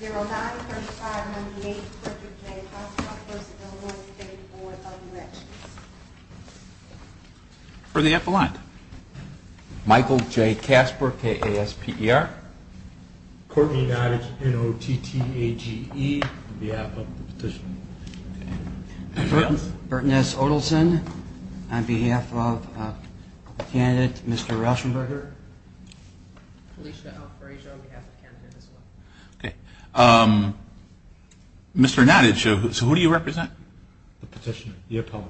0-9-35-98, Corker J. Kasper versus O-1-3-4, W. Edges. For the epilogue. Michael J. Kasper, K-A-S-P-E-R. Courtney Nottage, N-O-T-T-A-G-E, on behalf of the petitioner. Burton S. Odleson, on behalf of the candidate, Mr. Rauschenberger. Felicia Alfresco, on behalf of the candidate as well. Okay. Mr. Nottage, who do you represent? The petitioner, the epilogue.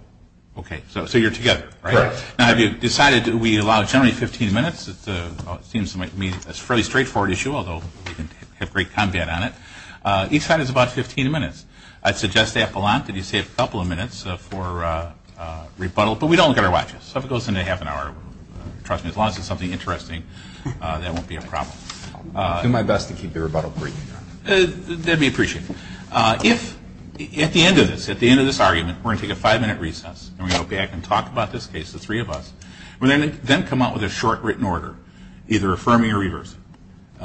Okay, so you're together, right? Correct. Now, have you decided that we allow generally 15 minutes? It seems to me that's a fairly straightforward issue, although we can have great combat on it. Each side is about 15 minutes. I'd suggest to Epilante that you save a couple of minutes for rebuttal, but we don't look at our watches. So if it goes into half an hour, trust me, as long as it's something interesting, that won't be a problem. I'll do my best to keep the rebuttal brief. That'd be appreciated. If, at the end of this, at the end of this argument, we're going to take a five-minute recess, and we go back and talk about this case, the three of us, we're going to then come out with a short written order, either affirming or reversing.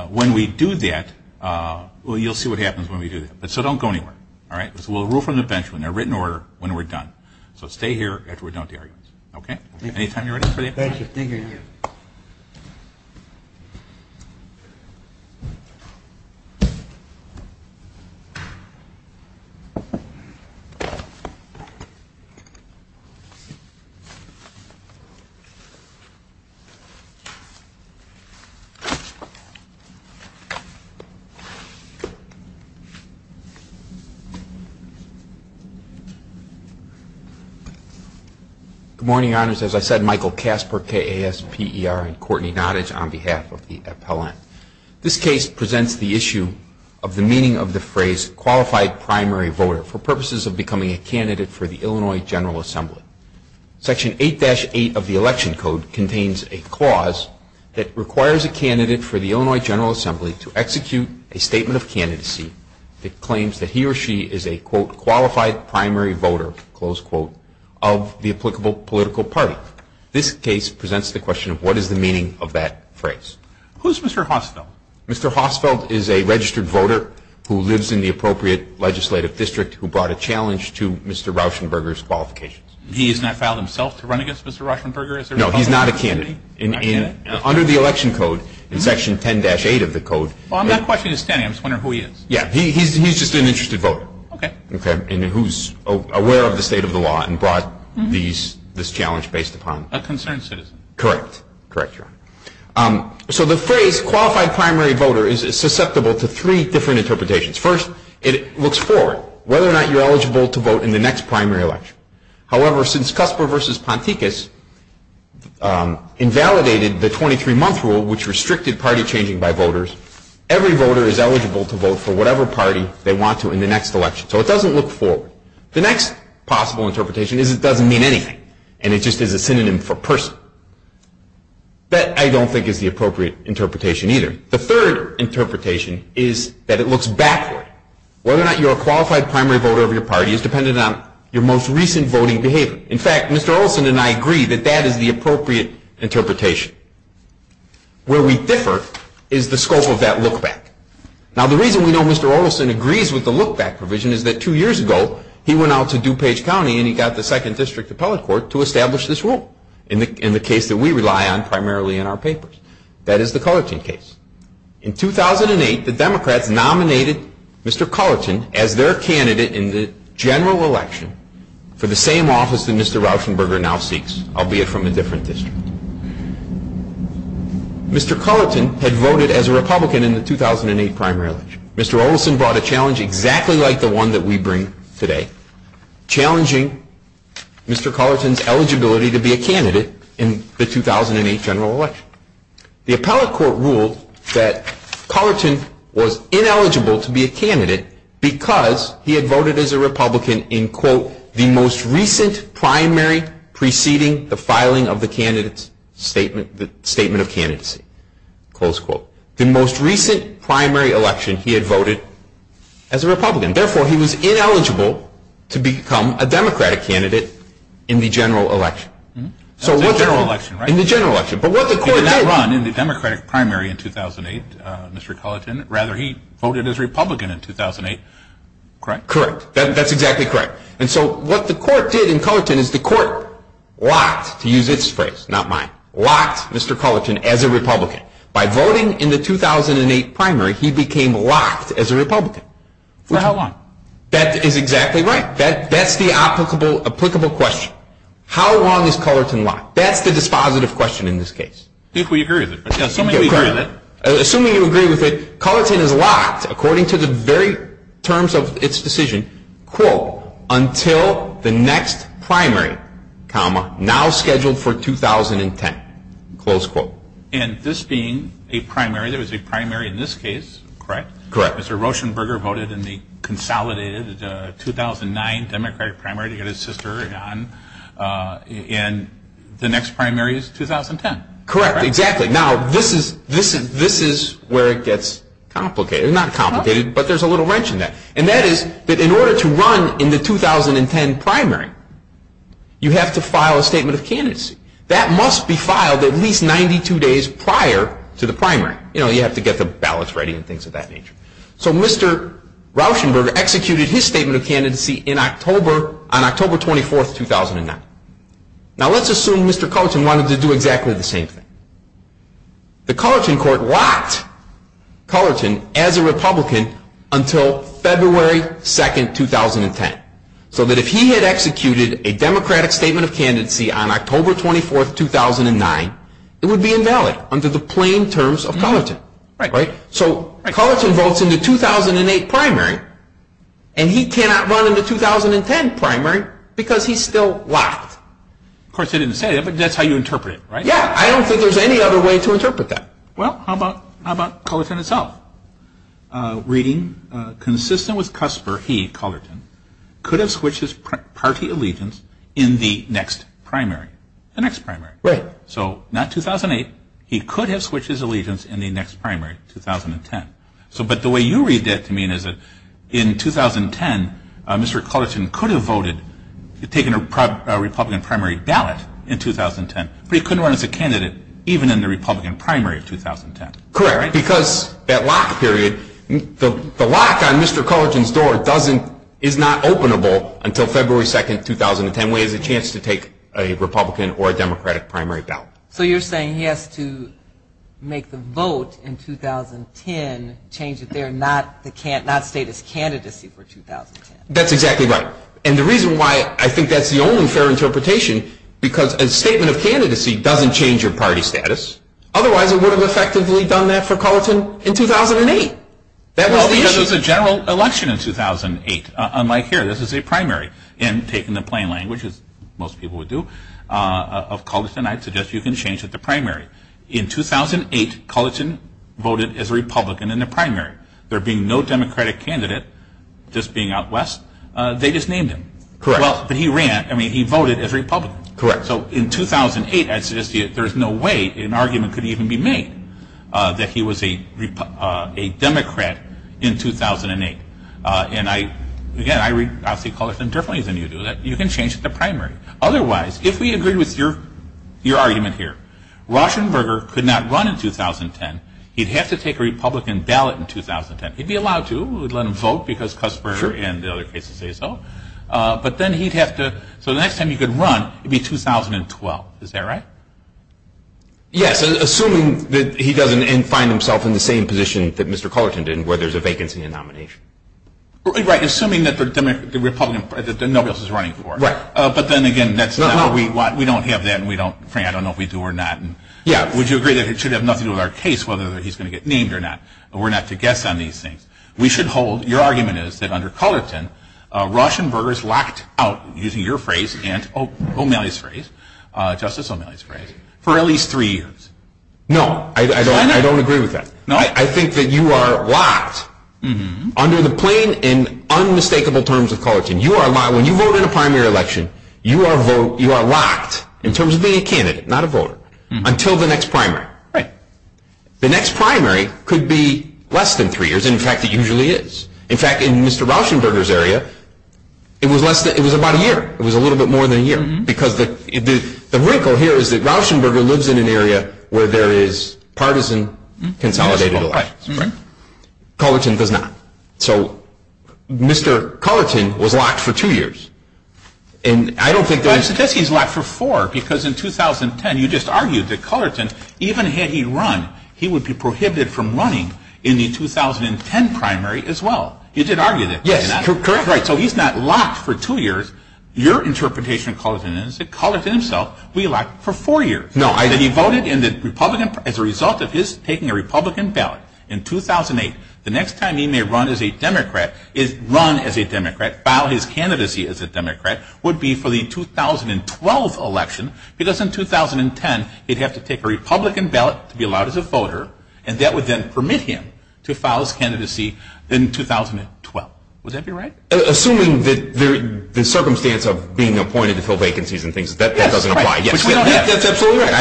When we do that, well, you'll see what happens when we do that. So don't go anywhere, all right? We'll rule from the bench in a written order when we're done. So stay here after we're done with the arguments. Okay? Good morning, Your Honors. As I said, Michael Kasper, K-A-S-P-E-R, and Courtney Nottage on behalf of the Epilante. This case presents the issue of the meaning of the phrase qualified primary voter for purposes of becoming a candidate for the Illinois General Assembly. Section 8-8 of the Election Code contains a clause that requires a candidate for the Illinois General Assembly to execute a statement of candidacy that claims that he or she is a, quote, qualified primary voter, close quote, of the applicable political party. This case presents the question of what is the meaning of that phrase. Who's Mr. Hossfeld? Mr. Hossfeld is a registered voter who lives in the appropriate legislative district who brought a challenge to Mr. Rauschenberger's qualifications. He has not filed himself to run against Mr. Rauschenberger as a Republican candidate? No, he's not a candidate. Not a candidate? Under the Election Code, in Section 10-8 of the Code. Well, I'm not questioning his standing. I'm just wondering who he is. Yeah. He's just an interested voter. Okay. Okay. And who's aware of the state of the law and brought this challenge based upon. A concerned citizen. Correct. Correct, Your Honor. So the phrase qualified primary voter is susceptible to three different interpretations. First, it looks forward, whether or not you're eligible to vote in the next primary election. However, since Cusper v. Ponticus invalidated the 23-month rule, which restricted party changing by voters, every voter is eligible to vote for whatever party they want to in the next election. So it doesn't look forward. The next possible interpretation is it doesn't mean anything. And it just is a synonym for person. That I don't think is the appropriate interpretation either. The third interpretation is that it looks backward. Whether or not you're a qualified primary voter of your party is dependent on your most recent voting behavior. In fact, Mr. Olson and I agree that that is the appropriate interpretation. Where we differ is the scope of that look-back. Now, the reason we know Mr. Olson agrees with the look-back provision is that two years ago he went out to DuPage County and he got the Second District Appellate Court to establish this rule in the case that we rely on primarily in our papers. That is the Cullerton case. In 2008, the Democrats nominated Mr. Cullerton as their candidate in the general election for the same office that Mr. Rauschenberger now seeks, albeit from a different district. Mr. Cullerton had voted as a Republican in the 2008 primary election. Mr. Olson brought a challenge exactly like the one that we bring today, challenging Mr. Cullerton's eligibility to be a candidate in the 2008 general election. The appellate court ruled that Cullerton was ineligible to be a candidate because he had voted as a Republican in, quote, the most recent primary preceding the filing of the statement of candidacy, close quote. The most recent primary election he had voted as a Republican. Therefore, he was ineligible to become a Democratic candidate in the general election. In the general election, right? He did not run in the Democratic primary in 2008, Mr. Cullerton. Rather, he voted as Republican in 2008, correct? Correct. That's exactly correct. And so what the court did in Cullerton is the court locked, to use its phrase, not mine, locked Mr. Cullerton as a Republican. By voting in the 2008 primary, he became locked as a Republican. For how long? That is exactly right. That's the applicable question. How long is Cullerton locked? That's the dispositive question in this case. I think we agree with it. Assuming you agree with it, Cullerton is locked, according to the very terms of its decision, quote, until the next primary, comma, now scheduled for 2010, close quote. And this being a primary, there was a primary in this case, correct? Correct. Mr. Rochenberger voted in the consolidated 2009 Democratic primary to get his sister on. And the next primary is 2010. Correct. Exactly. Now, this is where it gets complicated. Not complicated, but there's a little wrench in that. And that is that in order to run in the 2010 primary, you have to file a statement of candidacy. That must be filed at least 92 days prior to the primary. You know, you have to get the ballots ready and things of that nature. So Mr. Rochenberger executed his statement of candidacy on October 24, 2009. Now, let's assume Mr. Cullerton wanted to do exactly the same thing. The Cullerton court locked Cullerton as a Republican until February 2, 2010, so that if he had executed a Democratic statement of candidacy on October 24, 2009, it would be invalid under the plain terms of Cullerton. Right. So Cullerton votes in the 2008 primary, and he cannot run in the 2010 primary because he's still locked. Of course, he didn't say that, but that's how you interpret it, right? Yeah. I don't think there's any other way to interpret that. Well, how about Cullerton itself? Reading, consistent with Cusper, he, Cullerton, could have switched his party allegiance in the next primary. The next primary. Right. So not 2008, he could have switched his allegiance in the next primary, 2010. But the way you read that to me is that in 2010, Mr. Cullerton could have voted, taken a Republican primary ballot in 2010, but he couldn't run as a candidate even in the Republican primary of 2010. Correct. Because that lock period, the lock on Mr. Cullerton's door is not openable until February 2, 2010, when he has a chance to take a Republican or a Democratic primary ballot. So you're saying he has to make the vote in 2010 change it there, not state his candidacy for 2010. That's exactly right. And the reason why I think that's the only fair interpretation, because a statement of candidacy doesn't change your party status. Otherwise, it would have effectively done that for Cullerton in 2008. That was the issue. Well, because it was a general election in 2008. Unlike here, this is a primary. And taking the plain language, as most people would do, of Cullerton, I'd suggest you can change it to primary. In 2008, Cullerton voted as a Republican in the primary. There being no Democratic candidate, just being out West, they just named him. Correct. But he ran. I mean, he voted as Republican. Correct. So in 2008, I'd suggest there's no way an argument could even be made that he was a Democrat in 2008. And, again, I see Cullerton differently than you do, that you can change it to primary. Otherwise, if we agree with your argument here, Rauschenberger could not run in 2010. He'd have to take a Republican ballot in 2010. He'd be allowed to. We'd let him vote because Cuthbert and the other cases say so. But then he'd have to. So the next time he could run, it would be 2012. Is that right? Yes, assuming that he doesn't find himself in the same position that Mr. Cullerton did, where there's a vacancy and a nomination. Right. Assuming that the Republican, that nobody else is running for. Right. But then, again, that's not what we want. We don't have that, and we don't, frankly, I don't know if we do or not. Yeah. Would you agree that it should have nothing to do with our case whether he's going to get named or not? We're not to guess on these things. We should hold. Your argument is that under Cullerton, Rauschenberger is locked out, using your phrase and O'Malley's phrase, Justice O'Malley's phrase, for at least three years. No, I don't agree with that. No? I think that you are locked, under the plain and unmistakable terms of Cullerton, when you vote in a primary election, you are locked, in terms of being a candidate, not a voter, until the next primary. Right. The next primary could be less than three years, and, in fact, it usually is. In fact, in Mr. Rauschenberger's area, it was about a year. It was a little bit more than a year. Because the wrinkle here is that Rauschenberger lives in an area where there is partisan consolidated election. Right. Cullerton does not. So, Mr. Cullerton was locked for two years. And I don't think there is... But I suggest he's locked for four, because in 2010, you just argued that Cullerton, even had he run, he would be prohibited from running in the 2010 primary as well. You did argue that. Yes, correct. So he's not locked for two years. Your interpretation of Cullerton is that Cullerton himself will be locked for four years. No, I didn't. That he voted as a result of his taking a Republican ballot in 2008. The next time he may run as a Democrat, file his candidacy as a Democrat, would be for the 2012 election, because in 2010, he'd have to take a Republican ballot to be allowed as a voter, and that would then permit him to file his candidacy in 2012. Would that be right? Assuming the circumstance of being appointed to fill vacancies and things, that doesn't apply. Yes, that's absolutely right.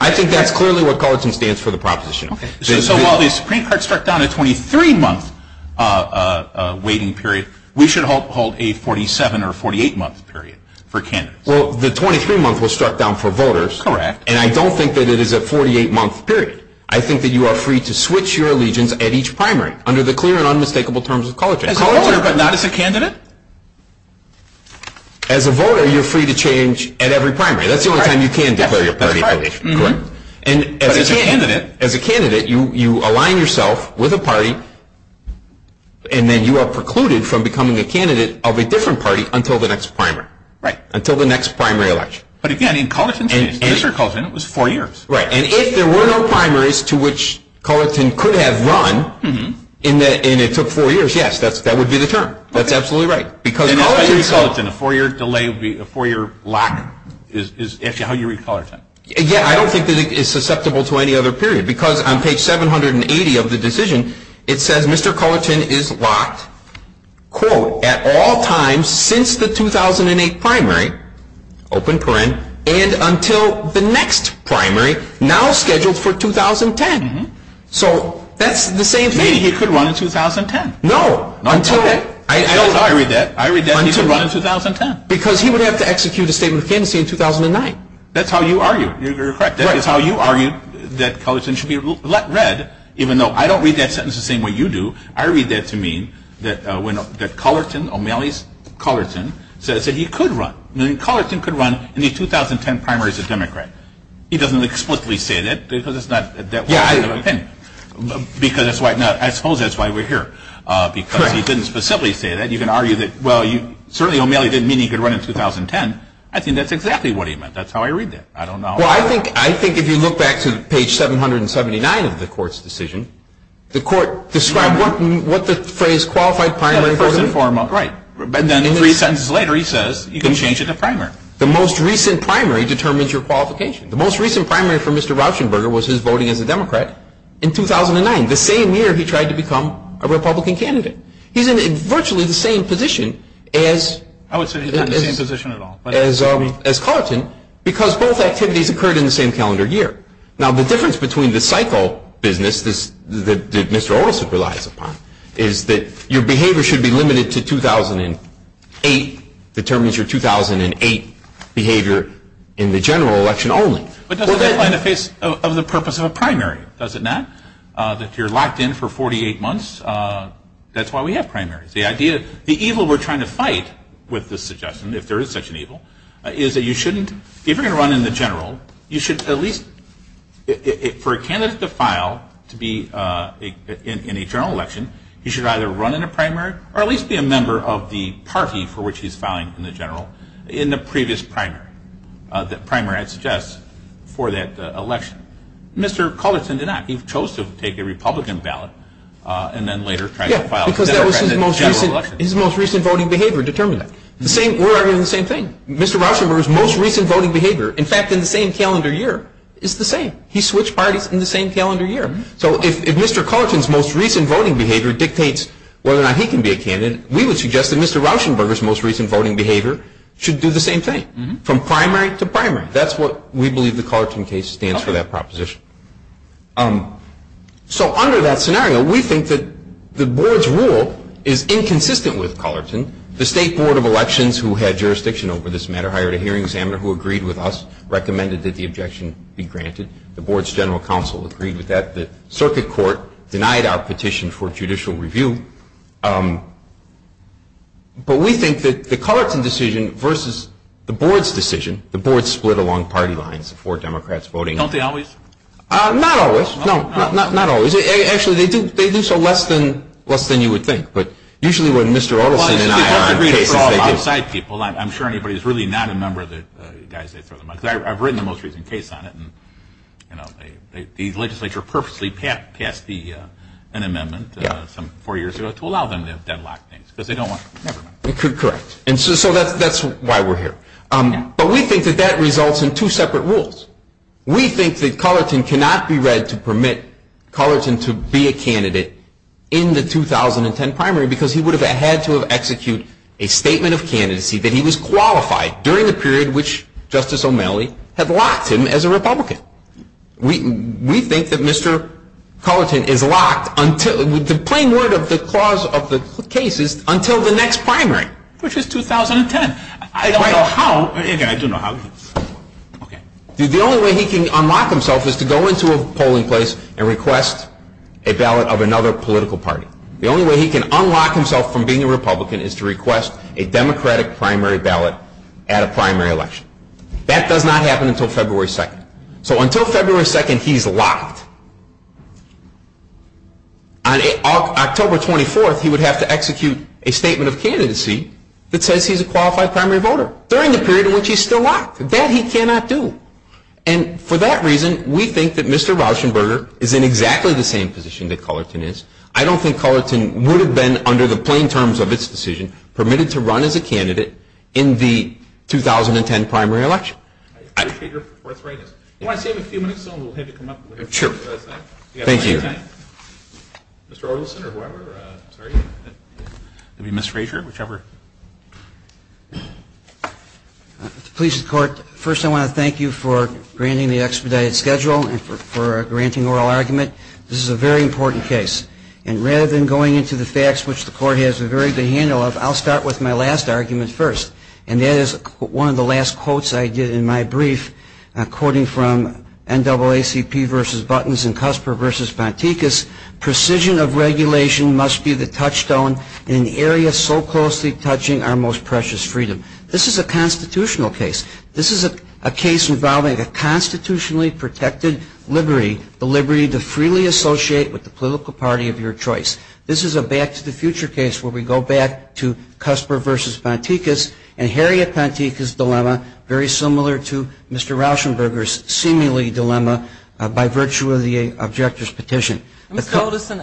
I think that's clearly what Cullerton stands for, the proposition. So while the Supreme Court struck down a 23-month waiting period, we should hold a 47- or 48-month period for candidates. Well, the 23-month was struck down for voters. Correct. And I don't think that it is a 48-month period. I think that you are free to switch your allegiance at each primary, under the clear and unmistakable terms of Cullerton. As a voter, but not as a candidate? As a voter, you're free to change at every primary. That's the only time you can declare your party affiliation, correct? But as a candidate. As a candidate, you align yourself with a party, and then you are precluded from becoming a candidate of a different party until the next primary. Right. Until the next primary election. But again, in Cullerton's case, Mr. Cullerton, it was four years. Right. And if there were no primaries to which Cullerton could have run, and it took four years, yes, that would be the term. That's absolutely right. And how do you read Cullerton? A four-year lock is actually how you read Cullerton. Yeah, I don't think that it is susceptible to any other period. Because on page 780 of the decision, it says Mr. Cullerton is locked, quote, at all times since the 2008 primary, open paren, and until the next primary, now scheduled for 2010. So that's the same thing. Maybe he could run in 2010. No. I read that he could run in 2010. Because he would have to execute a statement of candidacy in 2009. That's how you argue. You're correct. That's how you argue that Cullerton should be let red, even though I don't read that sentence the same way you do. I read that to mean that Cullerton, O'Malley's Cullerton, said he could run. I mean, Cullerton could run in the 2010 primaries of Democrat. He doesn't explicitly say that because it's not that way of saying it. Yeah, I agree. Because that's why, I suppose that's why we're here. Correct. Because he didn't specifically say that. You can argue that, well, certainly O'Malley didn't mean he could run in 2010. I think that's exactly what he meant. That's how I read that. I don't know. Well, I think if you look back to page 779 of the court's decision, the court described what the phrase qualified primary voting. First and foremost. Right. And then three sentences later he says you can change it to primary. The most recent primary determines your qualification. The most recent primary for Mr. Rauschenberger was his voting as a Democrat in 2009, the same year he tried to become a Republican candidate. He's in virtually the same position as. I would say he's not in the same position at all. As Claritin, because both activities occurred in the same calendar year. Now, the difference between the cycle business that Mr. Olson relies upon is that your behavior should be limited to 2008, determines your 2008 behavior in the general election only. But does that apply in the face of the purpose of a primary? Does it not? If you're locked in for 48 months, that's why we have primaries. The idea, the evil we're trying to fight with this suggestion, if there is such an evil, is that you shouldn't, if you're going to run in the general, you should at least, for a candidate to file to be in a general election, you should either run in a primary or at least be a member of the party for which he's filing in the general in the previous primary. The primary, I'd suggest, for that election. Mr. Claritin did not. He chose to take a Republican ballot and then later tried to file. Because that was his most recent voting behavior determined. We're arguing the same thing. Mr. Rauschenberger's most recent voting behavior, in fact, in the same calendar year, is the same. He switched parties in the same calendar year. So if Mr. Claritin's most recent voting behavior dictates whether or not he can be a candidate, we would suggest that Mr. Rauschenberger's most recent voting behavior should do the same thing, from primary to primary. That's what we believe the Claritin case stands for, that proposition. So under that scenario, we think that the board's rule is inconsistent with Claritin. The State Board of Elections, who had jurisdiction over this matter, hired a hearing examiner who agreed with us, recommended that the objection be granted. The board's general counsel agreed with that. The circuit court denied our petition for judicial review. But we think that the Claritin decision versus the board's decision, the board split along party lines, the four Democrats voting. Don't they always? Not always. No, not always. Actually, they do so less than you would think. But usually when Mr. Otterson and I are in cases, they do. I'm sure anybody who's really not a member of the guys that throw the money. I've written the most recent case on it, and the legislature purposely passed an amendment some four years ago to allow them to deadlock things because they don't want to remember. Correct. And so that's why we're here. But we think that that results in two separate rules. We think that Claritin cannot be read to permit Claritin to be a candidate in the 2010 primary because he would have had to have executed a statement of candidacy that he was qualified during the period which Justice O'Malley had locked him as a Republican. We think that Mr. Claritin is locked until the plain word of the clause of the case is until the next primary. Which is 2010. I don't know how. I do know how. The only way he can unlock himself is to go into a polling place and request a ballot of another political party. The only way he can unlock himself from being a Republican is to request a Democratic primary ballot at a primary election. That does not happen until February 2nd. So until February 2nd, he's locked. On October 24th, he would have to execute a statement of candidacy that says he's a qualified primary voter during the period in which he's still locked. That he cannot do. And for that reason, we think that Mr. Rauschenberger is in exactly the same position that Claritin is. I don't think Claritin would have been, under the plain terms of its decision, permitted to run as a candidate in the 2010 primary election. I appreciate your forthrightness. I want to save a few minutes so we'll have you come up. Sure. Thank you. Mr. Orlison or whoever. Ms. Frazier, whichever. Mr. Police and Court, first I want to thank you for granting the expedited schedule and for granting oral argument. This is a very important case. And rather than going into the facts, which the court has a very good handle of, I'll start with my last argument first. And that is one of the last quotes I did in my brief, quoting from NAACP versus Buttons and Cusper versus Bonticus. Precision of regulation must be the touchstone in an area so closely touching our most precious freedom. This is a constitutional case. This is a case involving a constitutionally protected liberty, the liberty to freely associate with the political party of your choice. This is a back-to-the-future case where we go back to Cusper versus Bonticus and Harriet Bonticus' dilemma very similar to Mr. Rauschenberger's seemingly dilemma by virtue of the objector's petition. Mr. Orlison,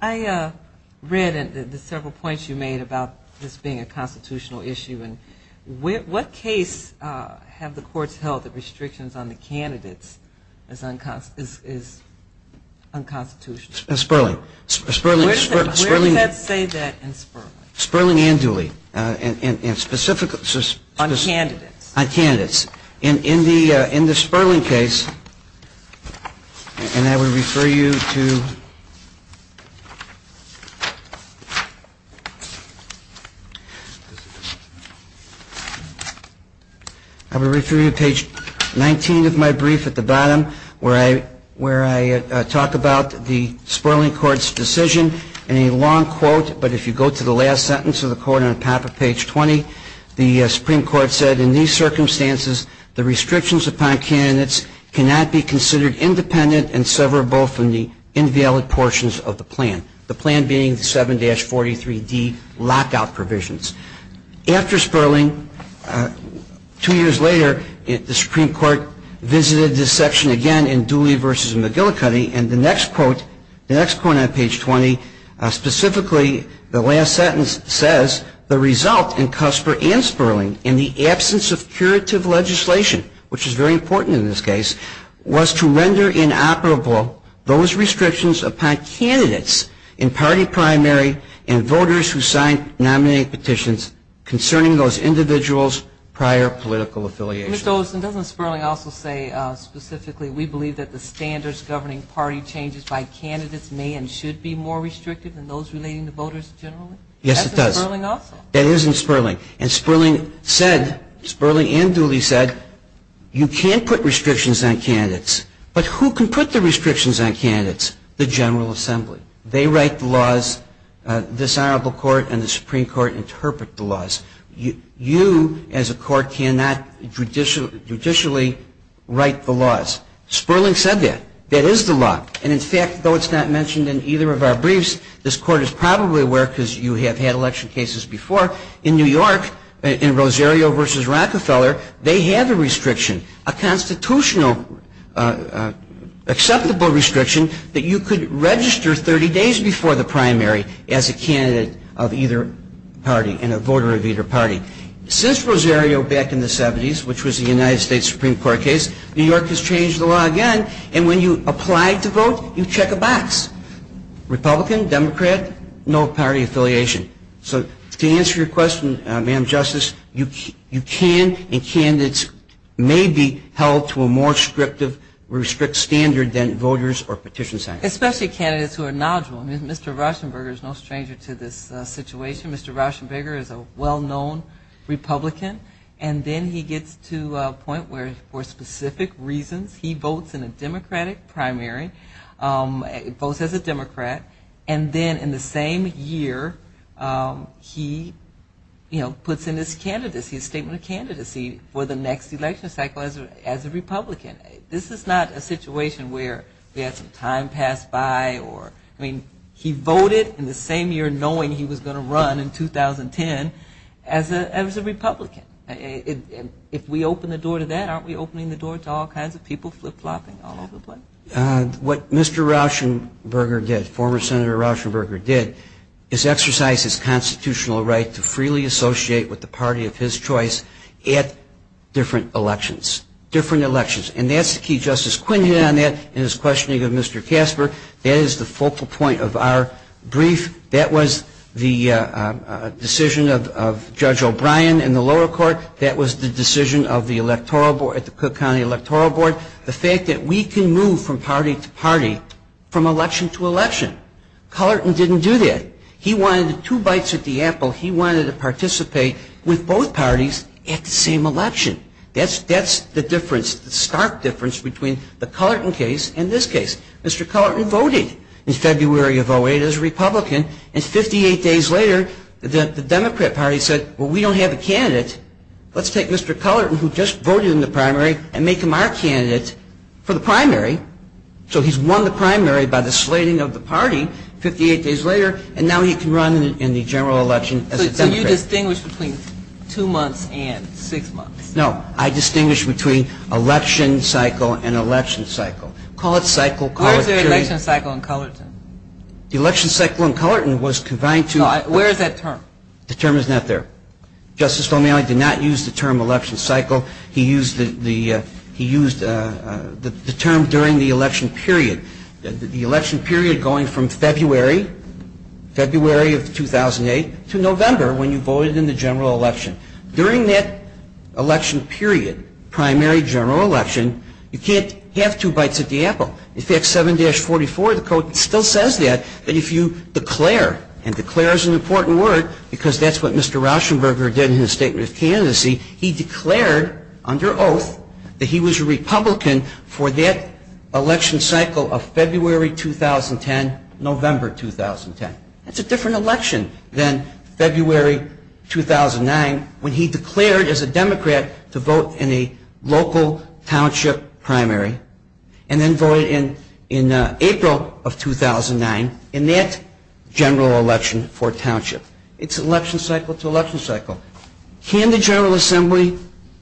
I read the several points you made about this being a constitutional issue. And what case have the courts held that restrictions on the candidates is unconstitutional? Spurling. Where does that say that in Spurling? Spurling and Dooley. On candidates. On candidates. In the Spurling case, and I would refer you to page 19 of my brief at the bottom where I talk about the Spurling Court's decision in a long quote, but if you go to the last sentence of the quote on the top of page 20, the Supreme Court said, in these circumstances, the restrictions upon candidates cannot be considered independent and severable from the invalid portions of the plan. The plan being the 7-43D lockout provisions. After Spurling, two years later, the Supreme Court visited this section again in Dooley v. McGillicuddy, and the next quote, the next quote on page 20, specifically the last sentence says, the result in Cusper and Spurling in the absence of curative legislation, which is very important in this case, was to render inoperable those restrictions upon candidates in party primary and voters who signed nominee petitions concerning those individuals' prior political affiliation. Mr. Olson, doesn't Spurling also say specifically, we believe that the standards governing party changes by candidates may and should be more restrictive than those relating to voters generally? Yes, it does. That's in Spurling also. That is in Spurling. And Spurling said, Spurling and Dooley said, you can't put restrictions on candidates, but who can put the restrictions on candidates? The General Assembly. They write the laws, this Honorable Court and the Supreme Court interpret the laws. You, as a court, cannot judicially write the laws. Spurling said that. That is the law. And, in fact, though it's not mentioned in either of our briefs, this Court is probably aware because you have had election cases before, in New York, in Rosario v. Rockefeller, they have a restriction, a constitutional acceptable restriction that you could register 30 days before the primary as a candidate of either party and a voter of either party. Since Rosario back in the 70s, which was the United States Supreme Court case, New York has changed the law again, and when you apply to vote, you check a box. Republican, Democrat, no party affiliation. So to answer your question, Madam Justice, you can and candidates may be held to a more strict standard than voters or petition centers. Especially candidates who are knowledgeable. Mr. Rauschenberger is no stranger to this situation. Mr. Rauschenberger is a well-known Republican, and then he gets to a point where, for specific reasons, he votes in a Democratic primary, votes as a Democrat, and then in the same year, he, you know, puts in his candidacy, his statement of candidacy for the next election cycle as a Republican. This is not a situation where we had some time pass by or, I mean, he voted in the same year knowing he was going to run in 2010 as a Republican. If we open the door to that, aren't we opening the door to all kinds of people flip-flopping all over the place? What Mr. Rauschenberger did, former Senator Rauschenberger did, is exercise his constitutional right to freely associate with the party of his choice at different elections. Different elections. And that's the key. Justice Quinn hit on that in his questioning of Mr. Casper. That is the focal point of our brief. That was the decision of Judge O'Brien in the lower court. That was the decision of the electoral board at the Cook County Electoral Board. The fact that we can move from party to party, from election to election. Cullerton didn't do that. He wanted two bites at the apple. He wanted to participate with both parties at the same election. That's the difference, the stark difference between the Cullerton case and this case. Mr. Cullerton voted in February of 08 as a Republican, and 58 days later, let's take Mr. Cullerton, who just voted in the primary, and make him our candidate for the primary. So he's won the primary by the slating of the party 58 days later, and now he can run in the general election as a Democrat. So you distinguish between two months and six months? No. I distinguish between election cycle and election cycle. Call it cycle, call it period. What is the election cycle in Cullerton? The election cycle in Cullerton was confined to... Where is that term? The term is not there. Justice O'Malley did not use the term election cycle. He used the term during the election period, the election period going from February, February of 2008, to November when you voted in the general election. During that election period, primary general election, you can't have two bites at the apple. In fact, 7-44, the code still says that, that if you declare, and declare is an important word because that's what Mr. Rauschenberger did in his statement of candidacy, he declared under oath that he was a Republican for that election cycle of February 2010, November 2010. That's a different election than February 2009 when he declared as a Democrat to vote in a local township primary, and then voted in April of 2009 in that general election for township. It's election cycle to election cycle. Can the General Assembly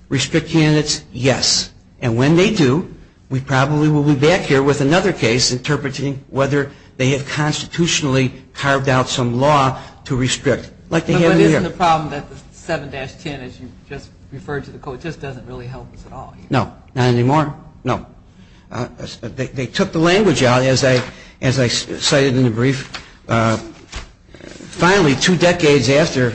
restrict candidates? Yes. And when they do, we probably will be back here with another case interpreting whether they have constitutionally carved out some law to restrict. But isn't the problem that the 7-10, as you just referred to the code, just doesn't really help us at all? No. Not anymore? No. They took the language out, as I cited in the brief. Finally, two decades after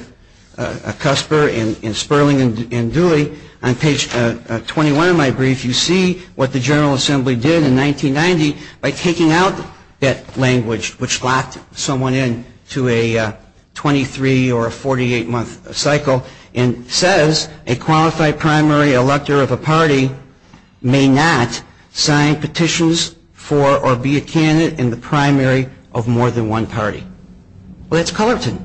Cusper and Sperling and Dooley, on page 21 of my brief, you see what the General Assembly did in 1990 by taking out that language, which locked someone in to a 23- or a 48-month cycle, and says a qualified primary elector of a party may not sign petitions for or be a candidate in the primary of more than one party. Well, that's Cullerton.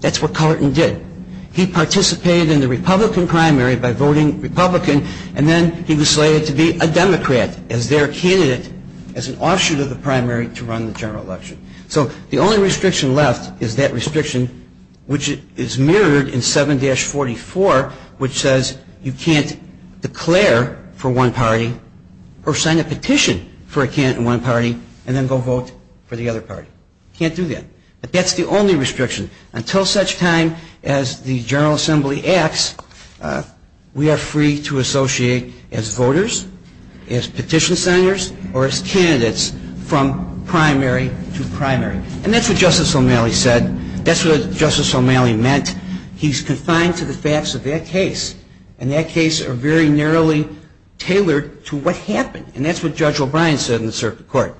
That's what Cullerton did. He participated in the Republican primary by voting Republican, and then he was slated to be a Democrat as their candidate as an offshoot of the primary to run the general election. So the only restriction left is that restriction, which is mirrored in 7-44, which says you can't declare for one party or sign a petition for a candidate in one party and then go vote for the other party. You can't do that. But that's the only restriction. Until such time as the General Assembly acts, we are free to associate as voters, as petition signers, or as candidates from primary to primary. And that's what Justice O'Malley said. That's what Justice O'Malley meant. He's confined to the facts of that case, and that case are very narrowly tailored to what happened. And that's what Judge O'Brien said in the circuit court.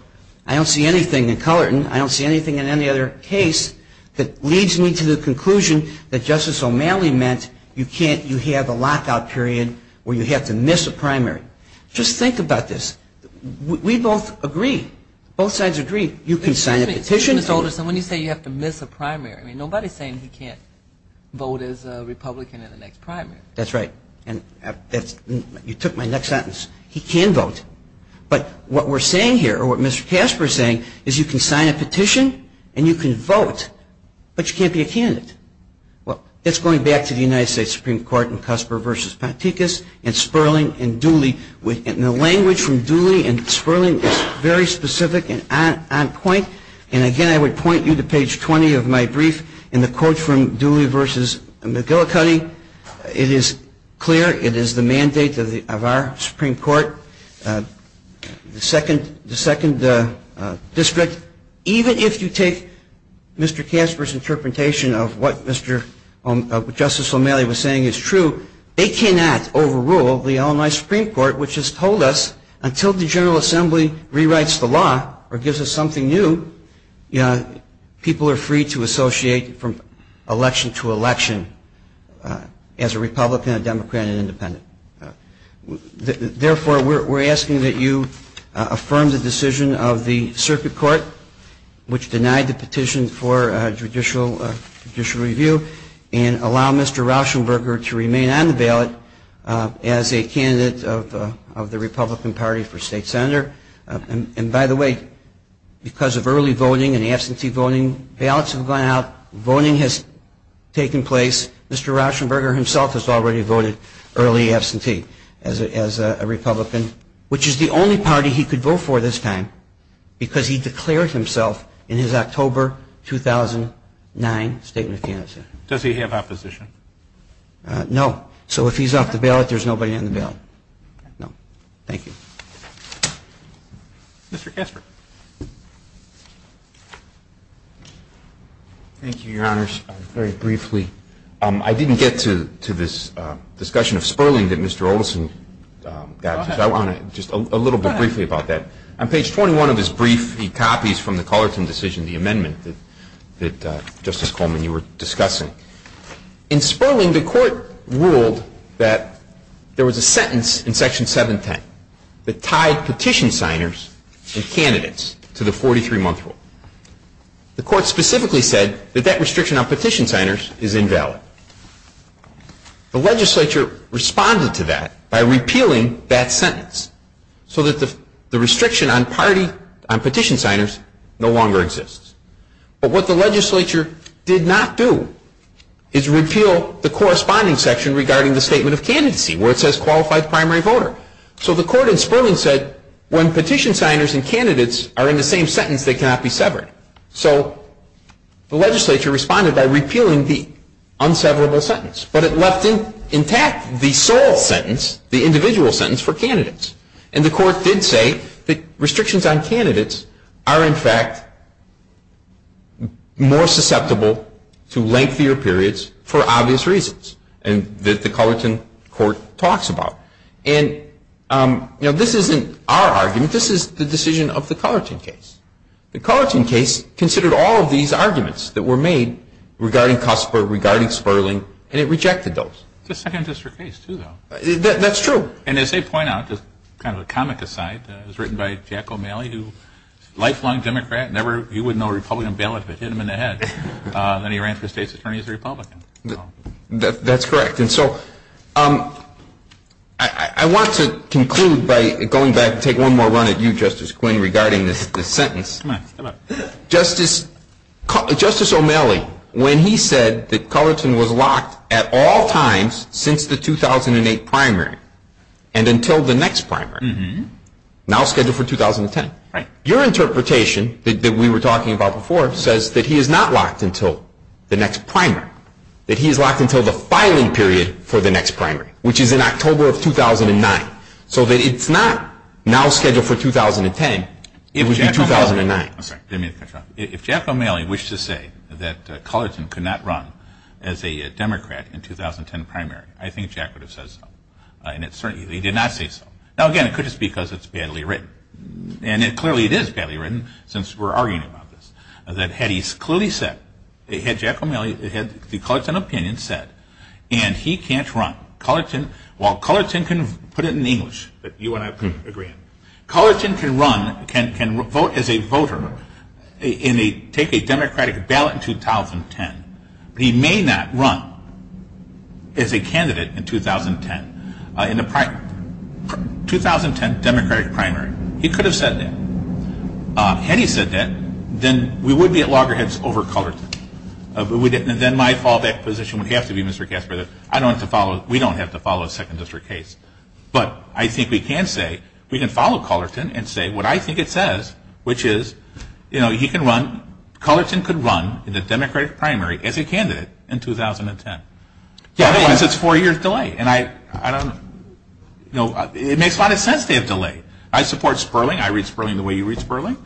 I don't see anything in Cullerton. I don't see anything in any other case that leads me to the conclusion that Justice O'Malley meant you have a lockout period where you have to miss a primary. Just think about this. We both agree. Both sides agree. You can sign a petition. Excuse me, Mr. Alderson, when you say you have to miss a primary, nobody is saying he can't vote as a Republican in the next primary. That's right. You took my next sentence. He can vote. But what we're saying here, or what Mr. Casper is saying, is you can sign a petition and you can vote, but you can't be a candidate. Well, it's going back to the United States Supreme Court in Cusper v. Panticus and Sperling and Dooley. And the language from Dooley and Sperling is very specific and on point. And, again, I would point you to page 20 of my brief in the quote from Dooley v. McGillicuddy. It is clear. It is the mandate of our Supreme Court, the second district. Even if you take Mr. Casper's interpretation of what Justice O'Malley was saying is true, they cannot overrule the Illinois Supreme Court, which has told us until the General Assembly rewrites the law or gives us something new, people are free to associate from election to election as a Republican, a Democrat, an independent. Therefore, we're asking that you affirm the decision of the Circuit Court, which denied the petition for judicial review, and allow Mr. Rauschenberger to remain on the ballot as a candidate of the Republican Party for state senator. And, by the way, because of early voting and absentee voting, ballots have gone out, voting has taken place. Mr. Rauschenberger himself has already voted early absentee as a Republican, which is the only party he could vote for this time because he declared himself in his October 2009 statement of candidacy. Does he have opposition? No. So if he's off the ballot, there's nobody on the ballot. No. Thank you. Mr. Casper. Thank you, Your Honors. Very briefly, I didn't get to this discussion of Sperling that Mr. Olson got to. Go ahead. I want to just a little bit briefly about that. Go ahead. On page 21 of his brief, he copies from the Cullerton decision, the amendment that Justice Coleman, you were discussing. In Sperling, the Court ruled that there was a sentence in Section 710 that tied petition signers and candidates to the 43-month rule. The Court specifically said that that restriction on petition signers is invalid. The legislature responded to that by repealing that sentence so that the restriction on party, on petition signers, no longer exists. But what the legislature did not do is repeal the corresponding section regarding the statement of candidacy, where it says qualified primary voter. So the Court in Sperling said, when petition signers and candidates are in the same sentence, they cannot be severed. So the legislature responded by repealing the unseverable sentence. But it left intact the sole sentence, the individual sentence, for candidates. And the Court did say that restrictions on candidates are, in fact, more susceptible to lengthier periods for obvious reasons that the Cullerton Court talks about. And, you know, this isn't our argument. This is the decision of the Cullerton case. The Cullerton case considered all of these arguments that were made regarding Cosper, regarding Sperling, and it rejected those. It's a Second District case, too, though. That's true. And as they point out, just kind of a comic aside, it was written by Jack O'Malley, who, lifelong Democrat, never, he wouldn't know Republican ballot if it hit him in the head. Then he ran for State's Attorney as a Republican. That's correct. And so I want to conclude by going back and take one more run at you, Justice Quinn, regarding this sentence. Come on. Justice O'Malley, when he said that Cullerton was locked at all times since the 2008 primary and until the next primary, now scheduled for 2010, your interpretation that we were talking about before says that he is not locked until the next primary, that he is locked until the filing period for the next primary, which is in October of 2009. So that it's not now scheduled for 2010, it would be 2009. If Jack O'Malley wished to say that Cullerton could not run as a Democrat in the 2010 primary, I think Jack would have said so. He did not say so. Now, again, it could just be because it's badly written. And clearly it is badly written, since we're arguing about this, that had he clearly said, had Jack O'Malley, had the Cullerton opinion said, and he can't run, while Cullerton can put it in English that you and I agree on, Cullerton can run, can vote as a voter and take a Democratic ballot in 2010. But he may not run as a candidate in 2010, in the 2010 Democratic primary. He could have said that. Had he said that, then we would be at loggerheads over Cullerton. Then my fallback position would have to be, Mr. Kasper, that I don't have to follow, we don't have to follow a second district case. But I think we can say, we can follow Cullerton and say what I think it says, which is, you know, he can run, Cullerton could run in the Democratic primary as a candidate in 2010. Otherwise it's four years delay. And I don't, you know, it makes a lot of sense to have delay. I support Sperling. I read Sperling the way you read Sperling.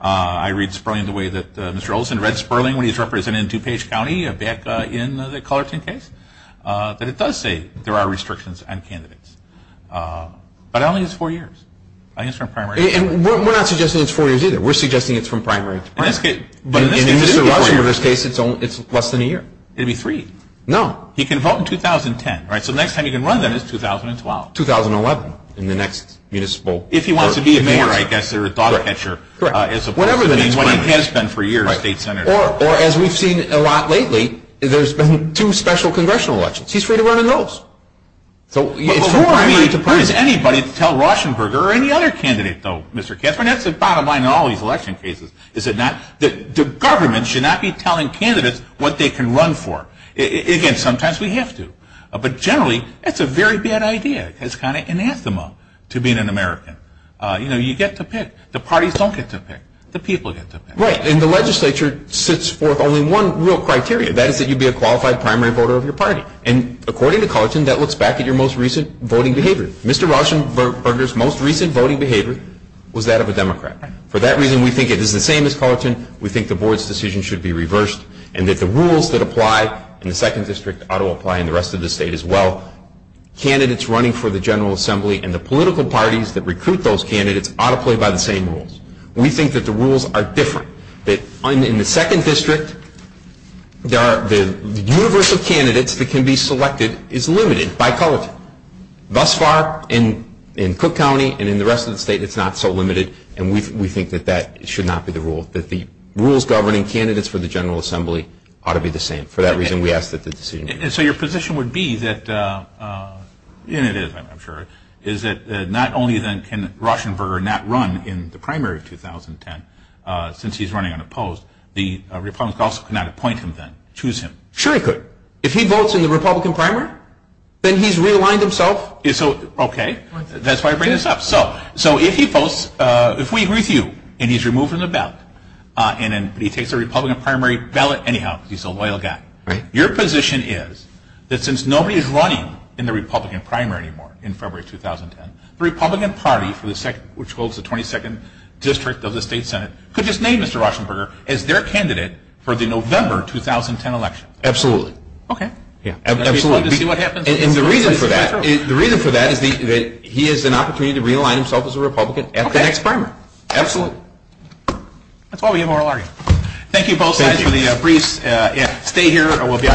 I read Sperling the way that Mr. Olson read Sperling when he was representing DuPage County back in the Cullerton case. But it does say there are restrictions on candidates. But I don't think it's four years. I think it's from primary to primary. And we're not suggesting it's four years either. We're suggesting it's from primary to primary. In this case, it's less than a year. It would be three. No. He can vote in 2010, right? So the next time he can run then is 2012. 2011 in the next municipal. If he wants to be a mayor, I guess, or a dog catcher as opposed to what he has been for years, a state senator. Or, as we've seen a lot lately, there's been two special congressional elections. He's free to run in those. So it's from primary to primary. Where is anybody to tell Rauschenberger or any other candidate, though, Mr. Kessler? And that's the bottom line in all these election cases, is that the government should not be telling candidates what they can run for. Again, sometimes we have to. But generally, it's a very bad idea. It's kind of anathema to being an American. You know, you get to pick. The parties don't get to pick. The people get to pick. Right. And the legislature sits forth only one real criteria, and that is that you be a qualified primary voter of your party. And according to Cullerton, that looks back at your most recent voting behavior. Mr. Rauschenberger's most recent voting behavior was that of a Democrat. For that reason, we think it is the same as Cullerton. We think the board's decision should be reversed and that the rules that apply in the 2nd District ought to apply in the rest of the state as well. Candidates running for the General Assembly and the political parties that recruit those candidates ought to play by the same rules. We think that the rules are different. That in the 2nd District, the universe of candidates that can be selected is limited by Cullerton. Thus far, in Cook County and in the rest of the state, it's not so limited, and we think that that should not be the rule, that the rules governing candidates for the General Assembly ought to be the same. For that reason, we ask that the decision be reversed. And so your position would be that, and it is, I'm sure, is that not only then can Rauschenberger not run in the primary of 2010 since he's running unopposed, the Republicans could also not appoint him then, choose him. Sure he could. If he votes in the Republican primary, then he's realigned himself. Okay. That's why I bring this up. So if he votes, if we agree with you, and he's removed from the ballot, and he takes the Republican primary ballot anyhow because he's a loyal guy, your position is that since nobody is running in the Republican primary anymore in February of 2010, the Republican Party, which holds the 22nd District of the State Senate, could just name Mr. Rauschenberger as their candidate for the November 2010 election. Absolutely. Okay. Absolutely. And the reason for that is that he has an opportunity to realign himself as a Republican at the next primary. Okay. Absolutely. That's why we have oral arguments. Thank you both sides for the briefs. Stay here and we'll be on in a few minutes.